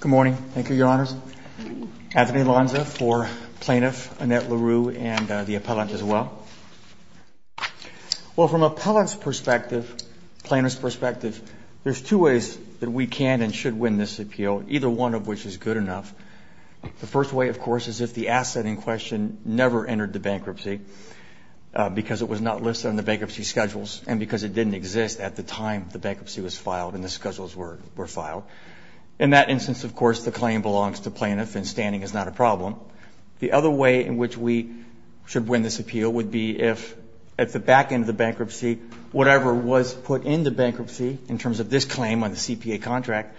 Good morning. Thank you, Your Honors. Anthony Lonza for Plaintiff, Annette LeRoux and the Appellant as well. Well, from Appellant's perspective, Plaintiff's perspective, there's two ways that we can and should win this appeal, either one of which is good enough. The first way, of course, is if the asset in question never entered the bankruptcy because it was not listed on the bankruptcy schedules and because it didn't exist at the time the bankruptcy was filed and the schedules were filed. In that instance, of course, the claim belongs to Plaintiff and standing is not a problem. The other way in which we should win this appeal would be if at the back end of the bankruptcy, whatever was put in the bankruptcy in terms of this claim on the C.P.A. contract,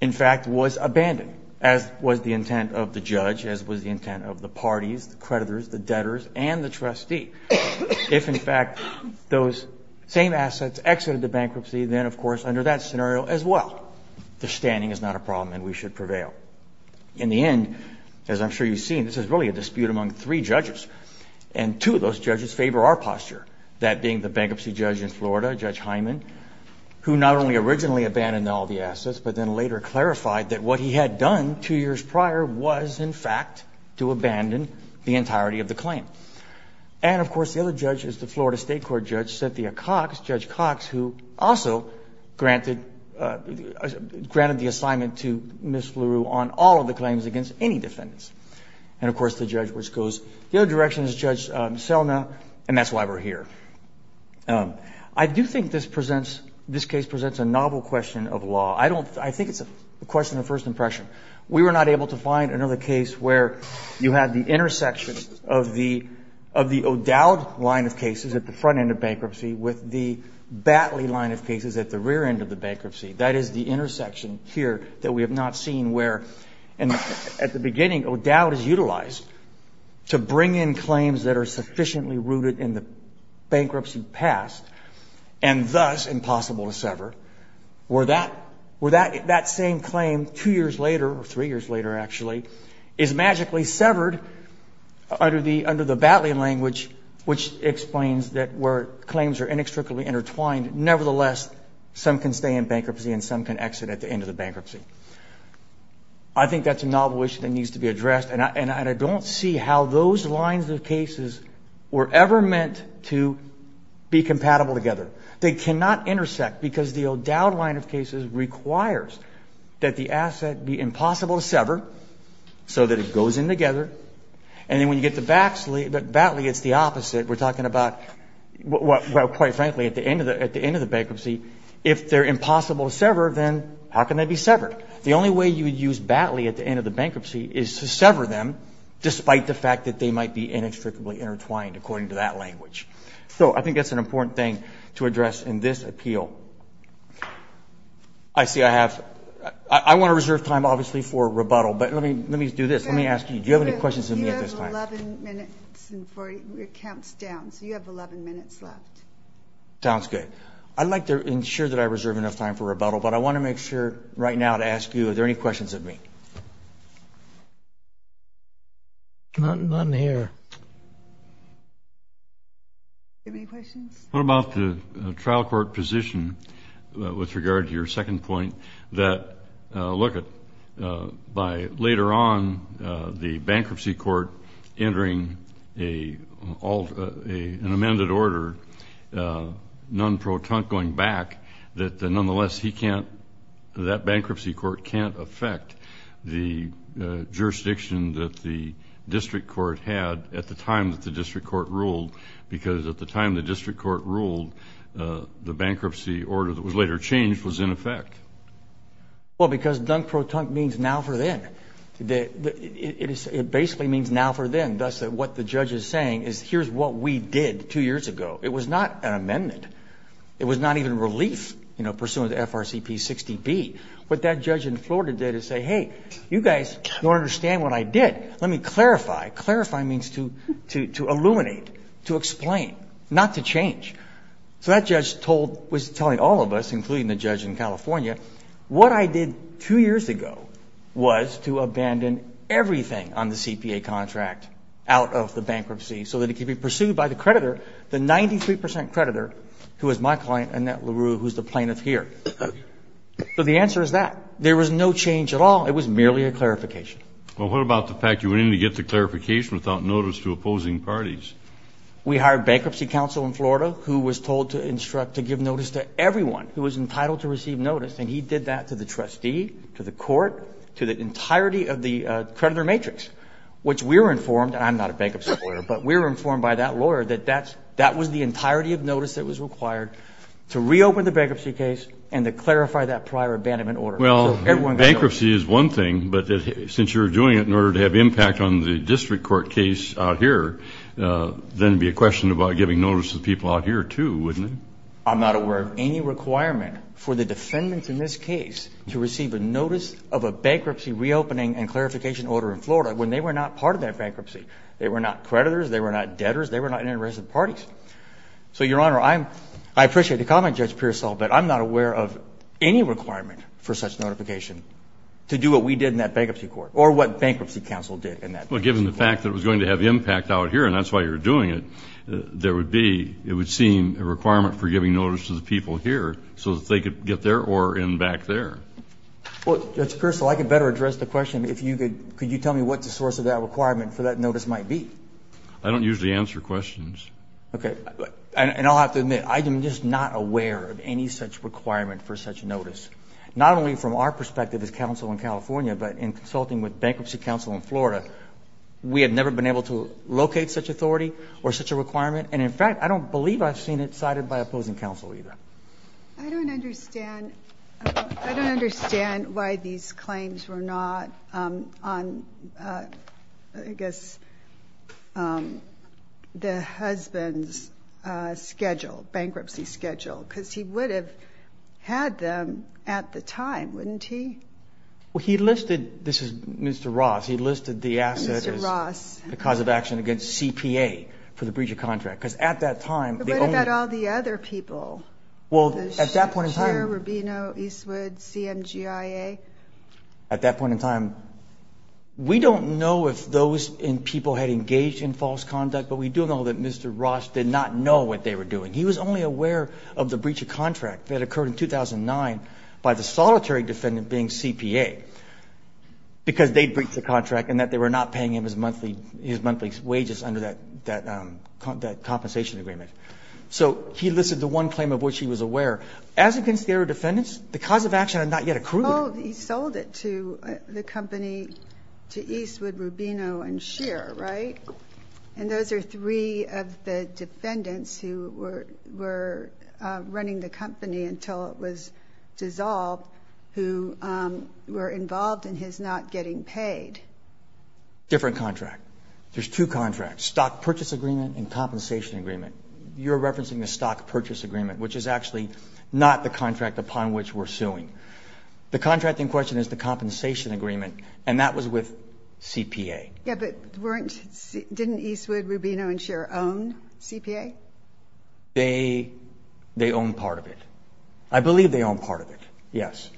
in fact, was abandoned, as was the intent of the judge, as was the intent of the parties, the creditors, the debtors, and the trustee. If, in fact, those same assets exited the bankruptcy, then, of course, under that scenario as well, the standing is not a problem and we should prevail. In the end, as I'm sure you've seen, this is really a dispute among three judges, and two of those judges favor our posture, that being the bankruptcy judge in Florida, Judge Hyman, who not only originally abandoned all the assets but then later clarified that what he had done two years prior was, in fact, to abandon the entirety of the claim. And, of course, the other judge is the Florida State Court judge, Cynthia Cox, Judge Cox, who also granted the assignment to Ms. LeRoux on all of the claims against any defendants. And, of course, the judge which goes the other direction is Judge Selna, and that's why we're here. I do think this presents, this case presents a novel question of law. I don't, I think it's a question of first impression. We were not able to find another case where you had the intersection of the, of the O'Dowd line of cases at the front end of bankruptcy with the Batley line of cases at the rear end of the bankruptcy. That is the intersection here that we have not seen where, and at the beginning, O'Dowd is utilized to bring in claims that are sufficiently rooted in the bankruptcy past and thus impossible to sever, where that, where that, that same claim two years later, or three years later actually, is magically severed under the, under the Batley language, which explains that where claims are inextricably intertwined, nevertheless, some can stay in bankruptcy and some can exit at the end of the bankruptcy. I think that's a novel issue that needs to be addressed, and I, and I don't see how those lines of cases were ever meant to be compatible together. They cannot intersect because the O'Dowd line of cases requires that the asset be impossible to sever so that it goes in together, and then when you get to Batley, it's the opposite. We're talking about, well, quite frankly, at the end of the, at the end of the bankruptcy, if they're impossible to sever, then how can they be severed? The only way you would use Batley at the end of the bankruptcy is to sever them, despite the fact that they might be inextricably intertwined, according to that language. So I think that's an important thing to address in this appeal. I see I have, I want to reserve time, obviously, for rebuttal, but let me, let me do this. Let me ask you, do you have any questions of me at this time? You have 11 minutes and 40, it counts down, so you have 11 minutes left. Sounds good. I'd like to ensure that I reserve enough time for rebuttal, but I want to make sure right now to ask you, are there any questions of me? None here. Do you have any questions? What about the trial court position with regard to your second point that, look, by later on the bankruptcy court entering an amended order, Nunn-Protunk going back, that nonetheless he can't, that bankruptcy court can't affect the jurisdiction that the district court had at the time that the district court ruled, because at the time the district court ruled, the bankruptcy order that was later changed was in effect? Well, because Nunn-Protunk means now for then. It basically means now for then, thus what the judge is saying is here's what we did two years ago. It was not an amendment. It was not even relief pursuant to FRCP 60B. What that judge in Florida did is say, hey, you guys don't understand what I did. Let me clarify. Clarify means to illuminate, to explain, not to change. So that judge was telling all of us, including the judge in California, what I did two years ago was to abandon everything on the CPA contract out of the bankruptcy so that it could be pursued by the creditor, the 93 percent creditor, who is my client, Annette LaRue, who is the plaintiff here. So the answer is that. There was no change at all. It was merely a clarification. Well, what about the fact you went in to get the clarification without notice to opposing parties? We hired bankruptcy counsel in Florida who was told to instruct to give notice to everyone who was entitled to receive notice, and he did that to the trustee, to the court, to the entirety of the creditor matrix, which we were informed, and I'm not a bankruptcy lawyer, but we were informed by that lawyer that that was the entirety of notice that was required to reopen the bankruptcy case and to clarify that prior abandonment order. Well, bankruptcy is one thing, but since you're doing it in order to have impact on the district court case out here, then it would be a question about giving notice to the people out here, too, wouldn't it? I'm not aware of any requirement for the defendants in this case to receive a notice of a bankruptcy reopening and clarification order in Florida when they were not part of that bankruptcy. They were not creditors. They were not debtors. They were not interested parties. So, Your Honor, I appreciate the comment, Judge Pearsall, but I'm not aware of any requirement for such notification to do what we did in that bankruptcy court or what bankruptcy counsel did in that case. Well, given the fact that it was going to have impact out here, and that's why you were doing it, there would be, it would seem, a requirement for giving notice to the people here so that they could get there or in back there. Well, Judge Pearsall, I could better address the question if you could. Could you tell me what the source of that requirement for that notice might be? I don't usually answer questions. Okay. And I'll have to admit, I am just not aware of any such requirement for such notice, not only from our perspective as counsel in California, but in consulting with bankruptcy counsel in Florida. We have never been able to locate such authority or such a requirement, and, in fact, I don't believe I've seen it cited by opposing counsel either. I don't understand. I don't understand why these claims were not on, I guess, the husband's schedule, bankruptcy schedule, because he would have had them at the time, wouldn't he? Well, he listed, this is Mr. Ross, he listed the asset as the cause of action against CPA for the breach of contract, because at that time the only- But what about all the other people? Well, at that point in time- Cher, Rubino, Eastwood, CMGIA. At that point in time, we don't know if those people had engaged in false conduct, but we do know that Mr. Ross did not know what they were doing. He was only aware of the breach of contract that occurred in 2009 by the solitary defendant being CPA, because they'd breached the contract and that they were not paying him his monthly wages under that compensation agreement. So he listed the one claim of which he was aware. As against the other defendants, the cause of action had not yet accrued. Oh, he sold it to the company, to Eastwood, Rubino, and Cher, right? And those are three of the defendants who were running the company until it was dissolved who were involved in his not getting paid. Different contract. There's two contracts, stock purchase agreement and compensation agreement. You're referencing the stock purchase agreement, which is actually not the contract upon which we're suing. The contract in question is the compensation agreement, and that was with CPA. Yeah, but weren't- didn't Eastwood, Rubino, and Cher own CPA? They owned part of it. I believe they owned part of it, yes.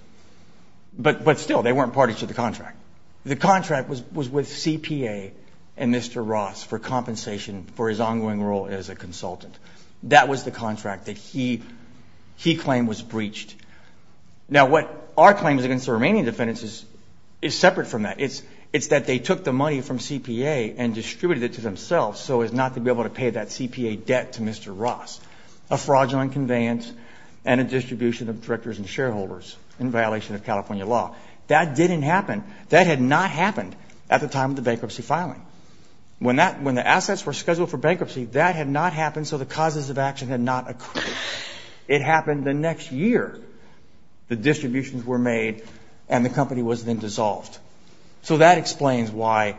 But still, they weren't parties to the contract. The contract was with CPA and Mr. Ross for compensation for his ongoing role as a consultant. That was the contract that he claimed was breached. Now, what our claim is against the remaining defendants is separate from that. It's that they took the money from CPA and distributed it to themselves so as not to be able to pay that CPA debt to Mr. Ross, a fraudulent conveyance and a distribution of directors and shareholders in violation of California law. That didn't happen. That had not happened at the time of the bankruptcy filing. When the assets were scheduled for bankruptcy, that had not happened so the causes of action had not occurred. It happened the next year. The distributions were made, and the company was then dissolved. So that explains why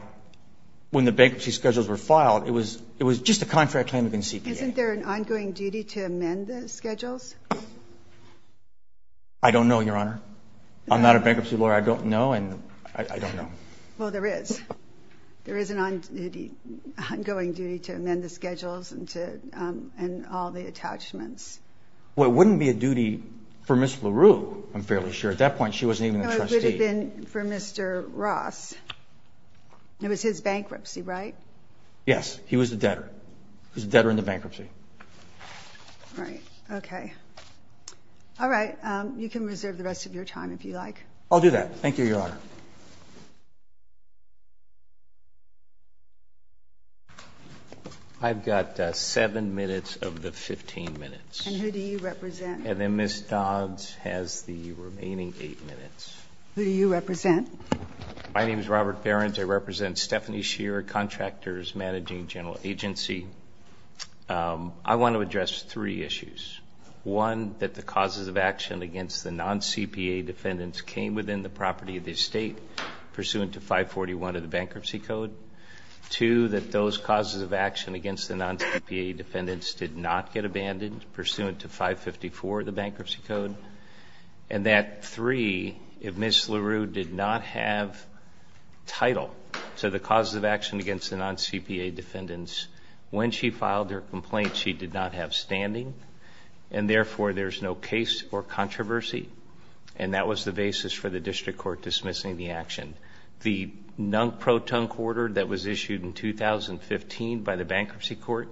when the bankruptcy schedules were filed, it was just a contract claim against CPA. Isn't there an ongoing duty to amend the schedules? I don't know, Your Honor. I'm not a bankruptcy lawyer. I don't know, and I don't know. Well, there is. There is an ongoing duty to amend the schedules and all the attachments. Well, it wouldn't be a duty for Ms. LaRue, I'm fairly sure. At that point, she wasn't even a trustee. No, it would have been for Mr. Ross. It was his bankruptcy, right? Yes, he was a debtor. He was a debtor in the bankruptcy. All right, okay. All right, you can reserve the rest of your time if you like. I'll do that. Thank you, Your Honor. I've got seven minutes of the 15 minutes. And who do you represent? And then Ms. Dodds has the remaining eight minutes. Who do you represent? My name is Robert Behrens. I represent Stephanie Shearer, Contractors Managing General Agency. I want to address three issues. One, that the causes of action against the non-CPA defendants came within the property of the estate pursuant to 541 of the Bankruptcy Code. Two, that those causes of action against the non-CPA defendants did not get abandoned pursuant to 554 of the Bankruptcy Code. And that three, if Ms. LaRue did not have title to the causes of action against the non-CPA defendants, when she filed her complaint, she did not have standing. And therefore, there's no case or controversy. And that was the basis for the District Court dismissing the action. The non-proton quarter that was issued in 2015 by the Bankruptcy Court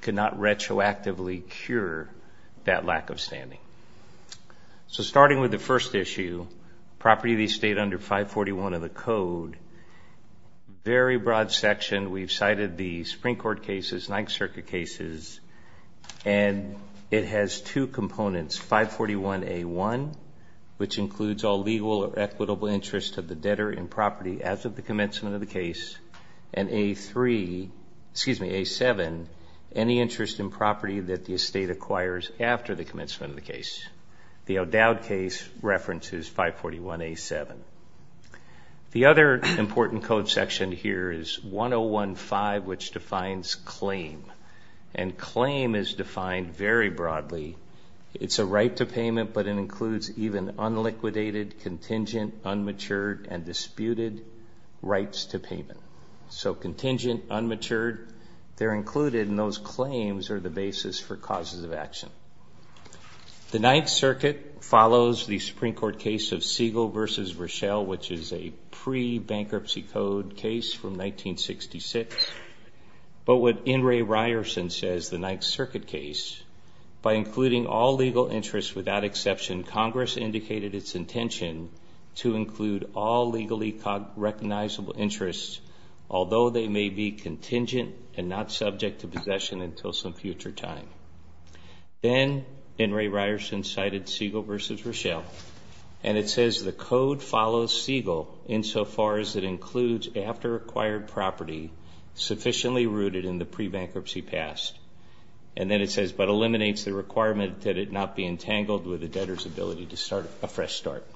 could not retroactively cure that lack of standing. So starting with the first issue, property of the estate under 541 of the Bankruptcy Code section, we've cited the Supreme Court cases, Ninth Circuit cases, and it has two components, 541A1, which includes all legal or equitable interest of the debtor in property as of the commencement of the case, and A3, excuse me, A7, any interest in property that the estate acquires after the commencement of the case. The O'Dowd case references 541A7. The other important code section here is 1015, which defines claim. And claim is defined very broadly. It's a right to payment, but it includes even unliquidated, contingent, unmatured, and disputed rights to payment. So contingent, unmatured, they're included, and those claims are the basis for causes of action. The Ninth Circuit follows the Supreme Court case of Siegel versus Rochelle, which is a pre-Bankruptcy Code case from 1966. But what N. Ray Ryerson says, the Ninth Circuit case, by including all legal interests without exception, Congress indicated its intention to include all legally recognizable interests, although they may be contingent and not subject to possession until some future time. Then N. Ray Ryerson cited Siegel versus Rochelle, and it says the code follows Siegel insofar as it includes after acquired property sufficiently rooted in the pre-Bankruptcy past. And then it says, but eliminates the requirement that it not be entangled with the debtor's ability to start a fresh start.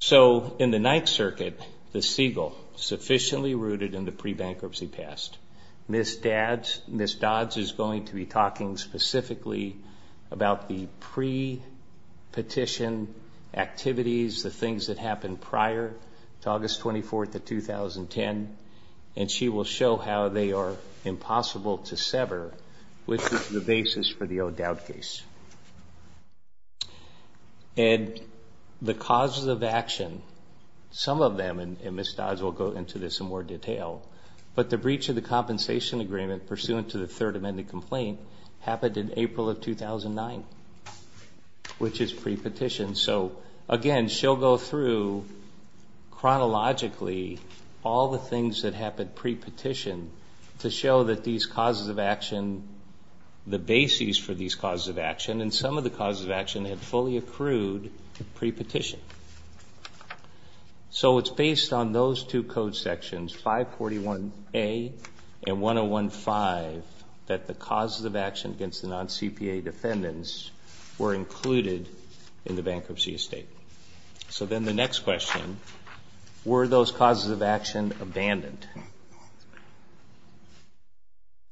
So in the Ninth Circuit, the Siegel sufficiently rooted in the pre-Bankruptcy past. Ms. Dodds is going to be talking specifically about the pre-petition activities, the things that happened prior to August 24th of 2010, and she will show how they are impossible to sever, which is the basis for the O'Dowd case. And the causes of action, some of them, and Ms. Dodds will go into this in more detail, but the breach of the compensation agreement pursuant to the Third Amendment complaint happened in April of 2009, which is pre-petition. So again, she'll go through chronologically all the things that happened pre-petition to show that these causes of action, the basis for these causes of action, and some of the causes of action had fully accrued pre-petition. So it's based on those two code sections, 541A and 1015, that the causes of action against the non-CPA defendants were included in the bankruptcy estate. So then the next question, were those causes of action abandoned?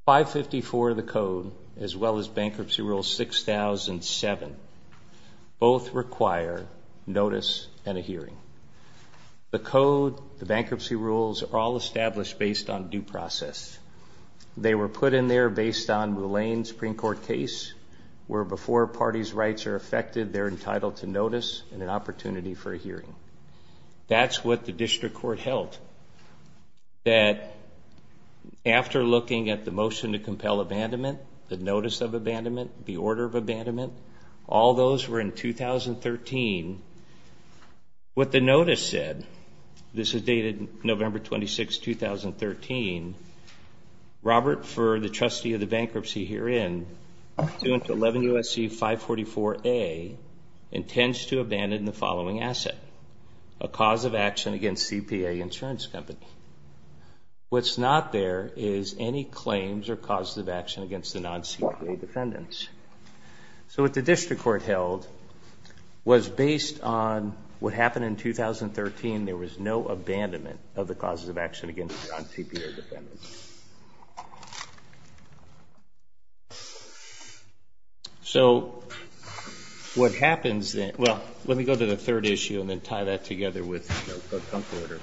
554 of the code, as well as Bankruptcy Rule 6007, both require notice and a hearing. The code, the bankruptcy rules, are all established based on due process. They were put in there based on the Lane Supreme Court case, where before a party's rights are affected, they're entitled to notice and an opportunity for a hearing. That's what the district court held, that after looking at the motion to compel abandonment, the notice of abandonment, the order of abandonment, all those were in 2013. What the notice said, this is dated November 26, 2013, Robert Furr, the trustee of the bankruptcy herein, suing to 11 U.S.C. 544A, intends to abandon the following asset, a cause of action against CPA insurance company. What's not there is any claims or causes of action against the non-CPA defendants. So what the district court held was based on what happened in 2013, there was no abandonment of the causes of action against non-CPA defendants. So what happens then, well, let me go to the third issue and then tie that together with the order.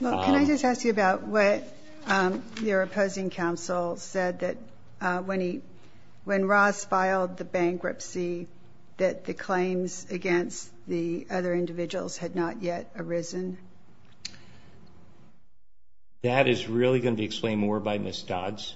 Well, can I just ask you about what your opposing counsel said, that when he, when Ross filed the bankruptcy, that the claims against the other individuals had not yet arisen? That is really going to be explained more by Ms. Dodds.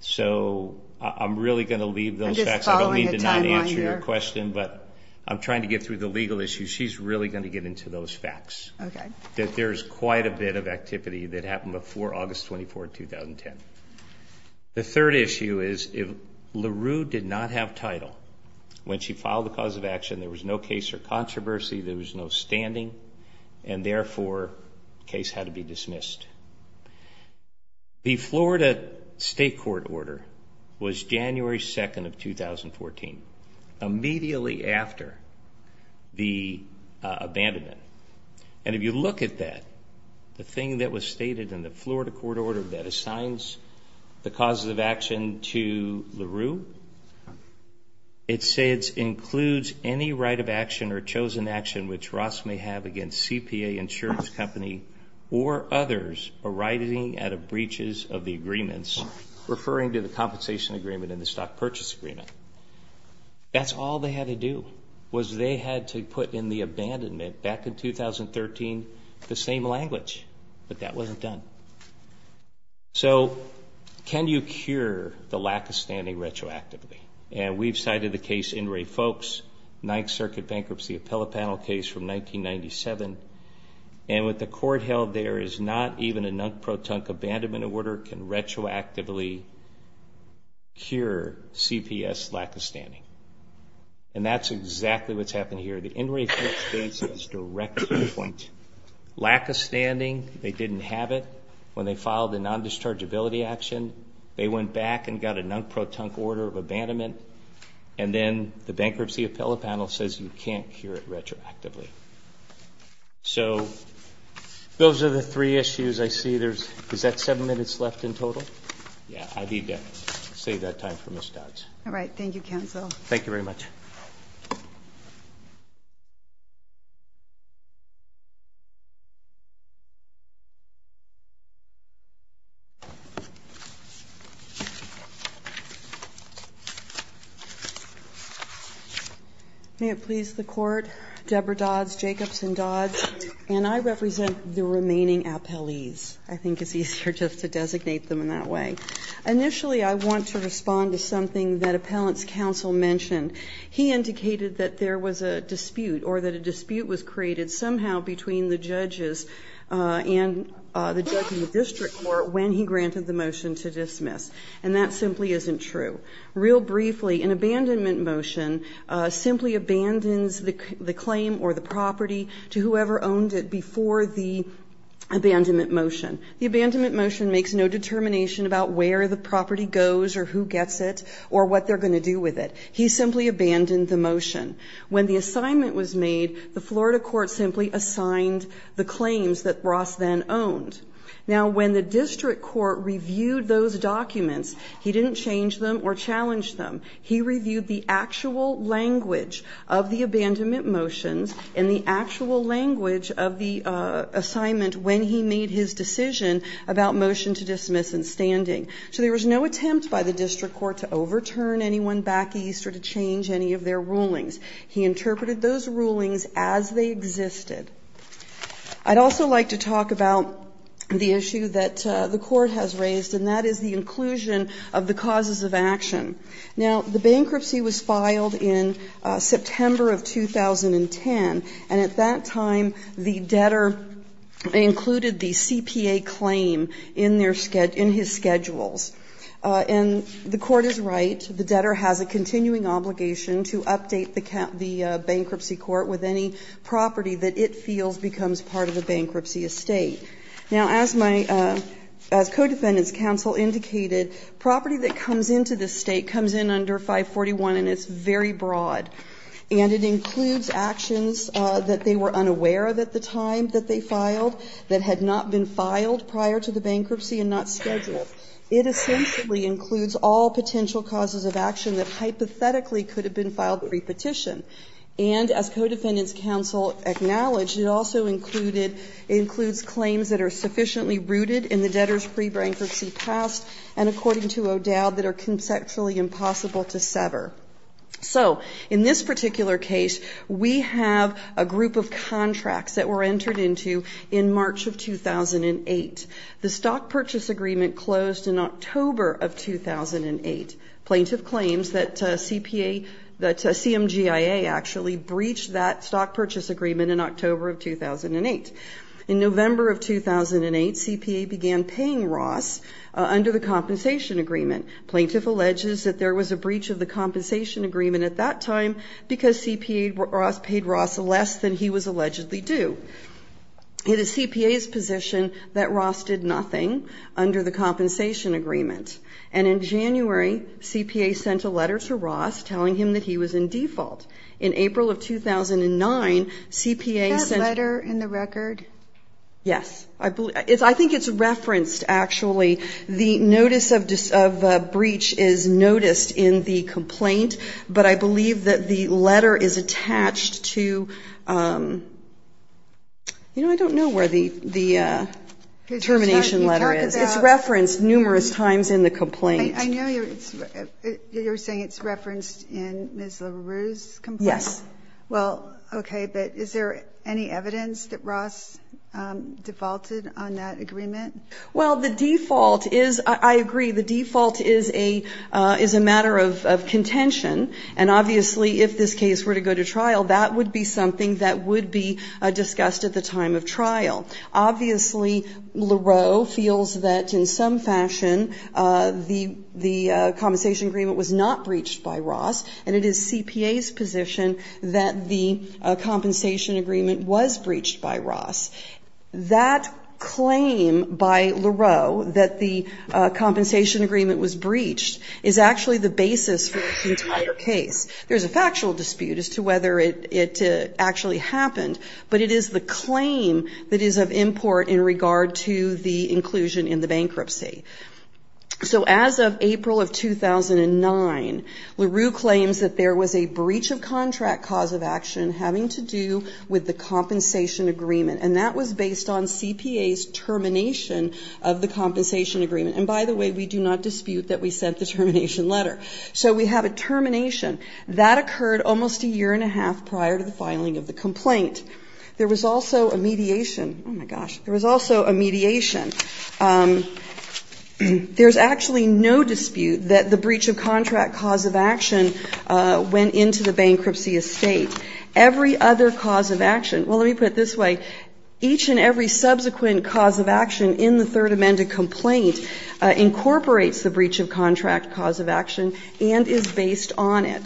So I'm really going to leave those facts. I don't mean to not answer your question, but I'm trying to get through the legal issues. She's really going to get into those facts. Okay. There's quite a bit of activity that happened before August 24, 2010. The third issue is if LaRue did not have title, when she filed the cause of action, there was no case or controversy, there was no standing, and therefore the case had to be dismissed. The Florida state court order was January 2nd of 2014, immediately after the abandonment. And if you look at that, the thing that was stated in the Florida court order that assigns the cause of action to LaRue, it says includes any right of action or chosen action which Ross may have against CPA insurance company or others arising out of breaches of the agreements, referring to the compensation agreement and the stock purchase agreement. That's all they had to do, was they had to put in the abandonment back in 2013 the same language, but that wasn't done. So can you cure the lack of standing retroactively? And we've cited the case In Re Folks, 9th Circuit bankruptcy appellate panel case from 1997, and what the court held there is not even a non-proton abandonment order can retroactively cure CPS lack of standing. And that's exactly what's happened here. The In Re Folks case is direct to the point. Lack of standing, they didn't have it. When they filed the non-dischargeability action, they went back and got a non-proton order of abandonment, and then the bankruptcy appellate panel says you can't cure it retroactively. So those are the three issues I see. Is that seven minutes left in total? Yeah, I need to save that time for Ms. Dodds. All right, thank you, counsel. Thank you very much. May it please the Court, Deborah Dodds, Jacobs and Dodds, and I represent the remaining appellees. I think it's easier just to designate them in that way. Initially, I want to respond to something that appellant's counsel mentioned. He indicated that there was a dispute or that a dispute was created somehow between the judges and the judge in the district court when he granted the motion to dismiss, and that simply isn't true. Real briefly, an abandonment motion simply abandons the claim or the property to whoever owned it before the abandonment motion. The abandonment motion makes no determination about where the property goes or who gets it or what they're going to do with it. He simply abandoned the motion. When the assignment was made, the Florida court simply assigned the claims that Ross then owned. Now, when the district court reviewed those documents, he didn't change them or challenge them. He reviewed the actual language of the abandonment motions and the actual language of the assignment when he made his decision about motion to dismiss and standing. So there was no attempt by the district court to overturn anyone back east or to change any of their rulings. He interpreted those rulings as they existed. I'd also like to talk about the issue that the court has raised, and that is the inclusion of the causes of action. Now, the bankruptcy was filed in September of 2010, and at that time the debtor included the CPA claim in their schedule, in his schedules. And the court is right, the debtor has a continuing obligation to update the bankruptcy court with any property that it feels becomes part of the bankruptcy estate. Now, as my co-defendant's counsel indicated, property that comes into the estate comes in under 541, and it's very broad. And it includes actions that they were unaware of at the time that they filed that had not been filed prior to the bankruptcy and not scheduled. It essentially includes all potential causes of action that hypothetically could have been filed pre-petition. And as co-defendant's counsel acknowledged, it also includes claims that are sufficiently rooted in the debtor's pre-bankruptcy past. And according to O'Dowd, that are conceptually impossible to sever. So in this particular case, we have a group of contracts that were entered into in March of 2008. The stock purchase agreement closed in October of 2008. Plaintiff claims that CMGIA actually breached that stock purchase agreement in October of 2008. In November of 2008, CPA began paying Ross under the compensation agreement. Plaintiff alleges that there was a breach of the compensation agreement at that time because CPA Ross paid Ross less than he was allegedly due. It is CPA's position that Ross did nothing under the compensation agreement. And in January, CPA sent a letter to Ross telling him that he was in default. In April of 2009, CPA sent... That letter in the record? Yes. I think it's referenced, actually. The notice of breach is noticed in the complaint, but I believe that the letter is attached to, you know, I don't know where the termination letter is. It's referenced numerous times in the complaint. I know you're saying it's referenced in Ms. LaRue's complaint. Yes. Well, okay, but is there any evidence that Ross defaulted on that agreement? Well, the default is, I agree, the default is a matter of contention, and obviously if this case were to go to trial, that would be something that would be discussed at the time of trial. Obviously, LaRue feels that in some fashion the compensation agreement was not breached by Ross, and it is CPA's position that the compensation agreement was breached by Ross. That claim by LaRue that the compensation agreement was breached is actually the basis for this entire case. There's a factual dispute as to whether it actually happened, but it is the claim that is of import in regard to the inclusion in the bankruptcy. So as of April of 2009, LaRue claims that there was a breach of contract cause of action having to do with the compensation agreement, and that was based on CPA's termination of the compensation agreement. And by the way, we do not dispute that we sent the termination letter. So we have a termination. That occurred almost a year and a half prior to the filing of the complaint. There was also a mediation. Oh, my gosh. There was also a mediation. There's actually no dispute that the breach of contract cause of action went into the bankruptcy estate. Every other cause of action, well, let me put it this way, each and every subsequent cause of action in the Third Amendment complaint incorporates the breach of contract cause of action and is based on it.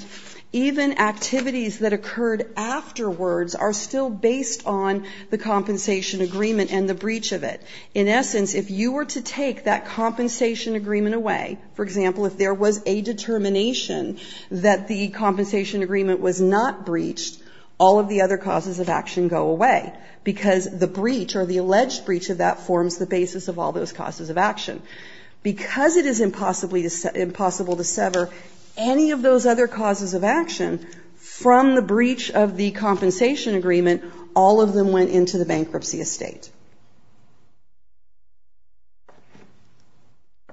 Even activities that occurred afterwards are still based on the compensation agreement and the breach of it. In essence, if you were to take that compensation agreement away, for example, if there was a determination that the compensation agreement was not breached, all of the other causes of action go away because the breach or the alleged breach of that forms the basis of all those causes of action. Because it is impossible to sever any of those other causes of action from the state.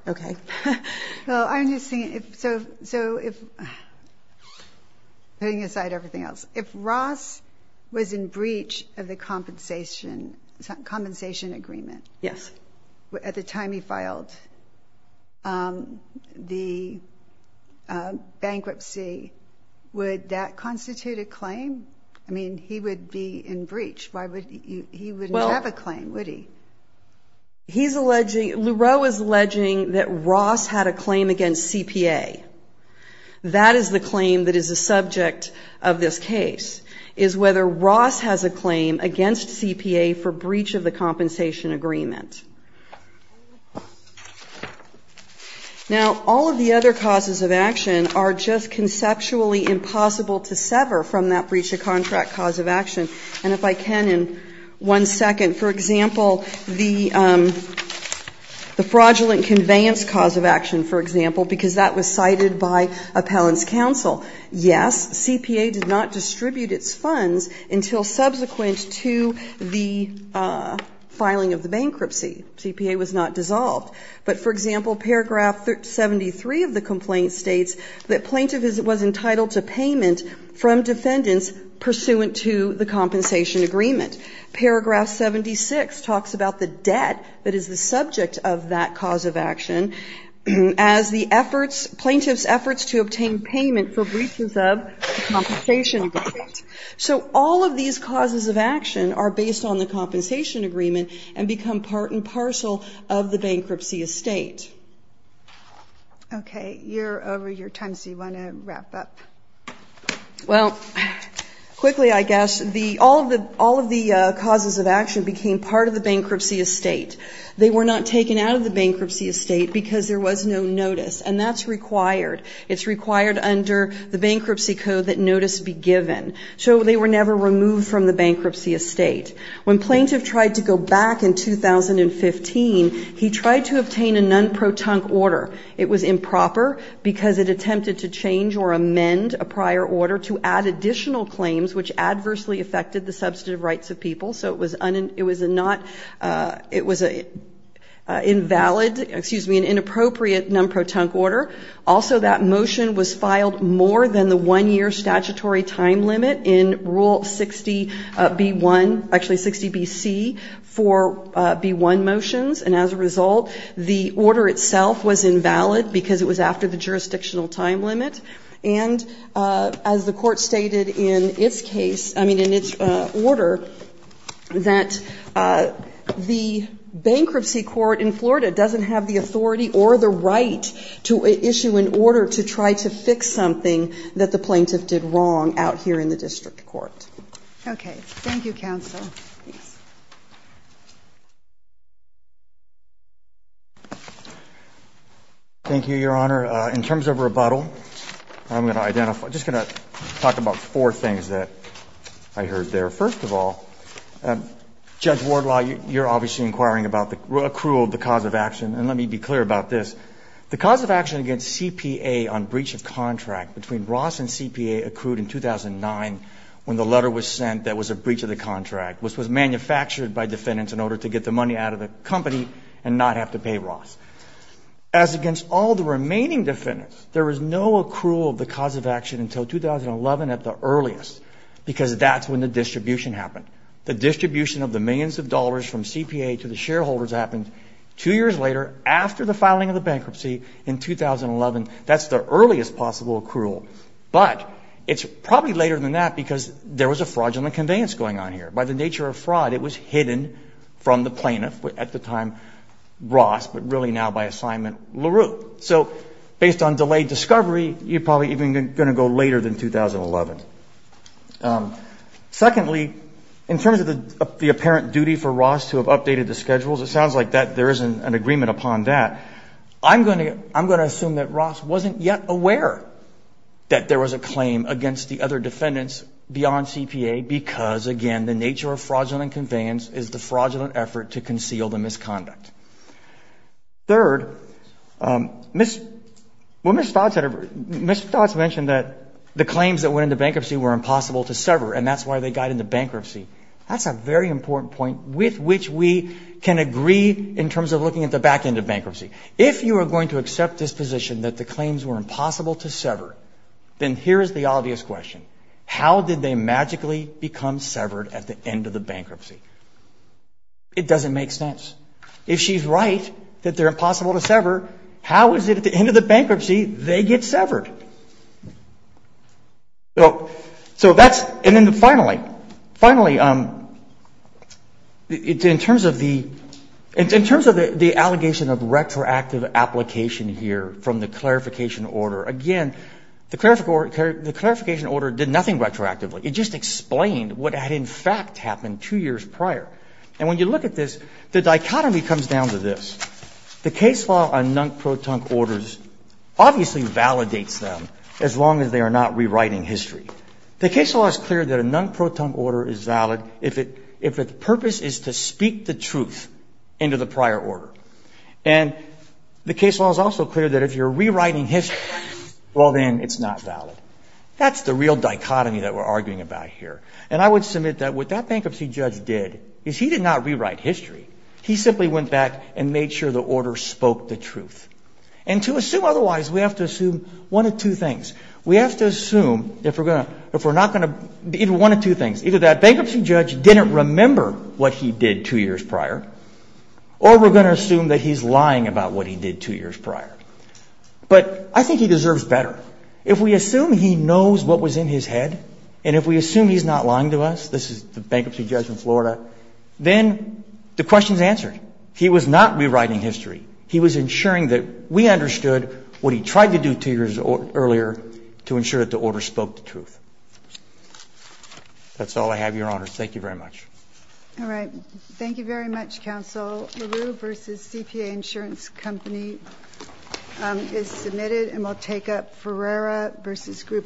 Okay. Well, I'm just thinking, so if, putting aside everything else, if Ross was in breach of the compensation agreement at the time he filed the bankruptcy, would that constitute a claim? I mean, he would be in breach. He wouldn't have a claim, would he? He's alleging, Leroux is alleging that Ross had a claim against CPA. That is the claim that is the subject of this case, is whether Ross has a claim against CPA for breach of the compensation agreement. Now, all of the other causes of action are just conceptually impossible to sever from that breach of contract cause of action. And if I can, in one second, for example, the fraudulent conveyance cause of action, for example, because that was cited by appellant's counsel. Yes, CPA did not distribute its funds until subsequent to the filing of the bankruptcy. CPA was not dissolved. But, for example, paragraph 73 of the complaint states that plaintiff was entitled to payment from defendants pursuant to the compensation agreement. Paragraph 76 talks about the debt that is the subject of that cause of action as the efforts, plaintiff's efforts to obtain payment for breaches of the compensation agreement. So all of these causes of action are based on the compensation agreement and become part and parcel of the bankruptcy estate. Okay. You're over your time, so you want to wrap up? Well, quickly, I guess. All of the causes of action became part of the bankruptcy estate. They were not taken out of the bankruptcy estate because there was no notice. And that's required. It's required under the bankruptcy code that notice be given. So they were never removed from the bankruptcy estate. When plaintiff tried to go back in 2015, he tried to obtain a non-protonc order. It was improper because it attempted to change or amend a prior order to add additional claims which adversely affected the substantive rights of people. So it was not, it was invalid, excuse me, an inappropriate non-protonc order. Also, that motion was filed more than the one-year statutory time limit in Rule 60B1, actually 60BC, for B1 motions. And as a result, the order itself was invalid because it was after the jurisdictional time limit. And as the court stated in its case, I mean, in its order, that the bankruptcy court in Florida doesn't have the authority or the right to issue an order to try to fix something that the plaintiff did wrong out here in the district court. Okay. Thank you, counsel. Thanks. Thank you, Your Honor. In terms of rebuttal, I'm going to identify, I'm just going to talk about four things that I heard there. First of all, Judge Wardlaw, you're obviously inquiring about the accrual of the cause of action. And let me be clear about this. The cause of action against CPA on breach of contract between Ross and CPA accrued in 2009 when the letter was sent that was a breach of the contract, which was manufactured by defendants in order to get the money out of the company and not have to pay Ross. As against all the remaining defendants, there was no accrual of the cause of action until 2011 at the earliest, because that's when the distribution happened. The distribution of the millions of dollars from CPA to the shareholders happened two years later after the filing of the bankruptcy in 2011. That's the earliest possible accrual. But it's probably later than that because there was a fraudulent conveyance going on here. By the nature of fraud, it was hidden from the plaintiff at the time, Ross, but really now by assignment, LaRue. So based on delayed discovery, you're probably even going to go later than 2011. Secondly, in terms of the apparent duty for Ross to have updated the schedules, it sounds like there is an agreement upon that. I'm going to assume that Ross wasn't yet aware that there was a claim against the other defendants beyond CPA because, again, the nature of fraudulent conveyance is the fraudulent effort to conceal the misconduct. Third, Ms. Dodds mentioned that the claims that went into bankruptcy were impossible to sever, and that's why they got into bankruptcy. That's a very important point with which we can agree in terms of looking at the back end of bankruptcy. If you are going to accept this position that the claims were impossible to sever, then here is the obvious question. How did they magically become severed at the end of the bankruptcy? It doesn't make sense. If she's right that they're impossible to sever, how is it at the end of the bankruptcy they get severed? Finally, in terms of the allegation of retroactive application here from the clarification order, again, the clarification order did nothing retroactively. It just explained what had, in fact, happened two years prior. And when you look at this, the dichotomy comes down to this. The case law on non-proton orders obviously validates them as long as they are not rewriting history. The case law is clear that a non-proton order is valid if its purpose is to speak the truth into the prior order. And the case law is also clear that if you're rewriting history, well, then it's not valid. That's the real dichotomy that we're arguing about here. And I would submit that what that bankruptcy judge did is he did not rewrite history. He simply went back and made sure the order spoke the truth. And to assume otherwise, we have to assume one of two things. We have to assume, if we're not going to, either one of two things. Either that bankruptcy judge didn't remember what he did two years prior, or we're going to assume that he's lying about what he did two years prior. But I think he deserves better. If we assume he knows what was in his head, and if we assume he's not lying to us, this question is answered. He was not rewriting history. He was ensuring that we understood what he tried to do two years earlier to ensure that the order spoke the truth. That's all I have, Your Honor. Thank you very much. All right. Thank you very much, Counsel. LaRue v. CPA Insurance Company is submitted, and we'll take up Ferreira v. Group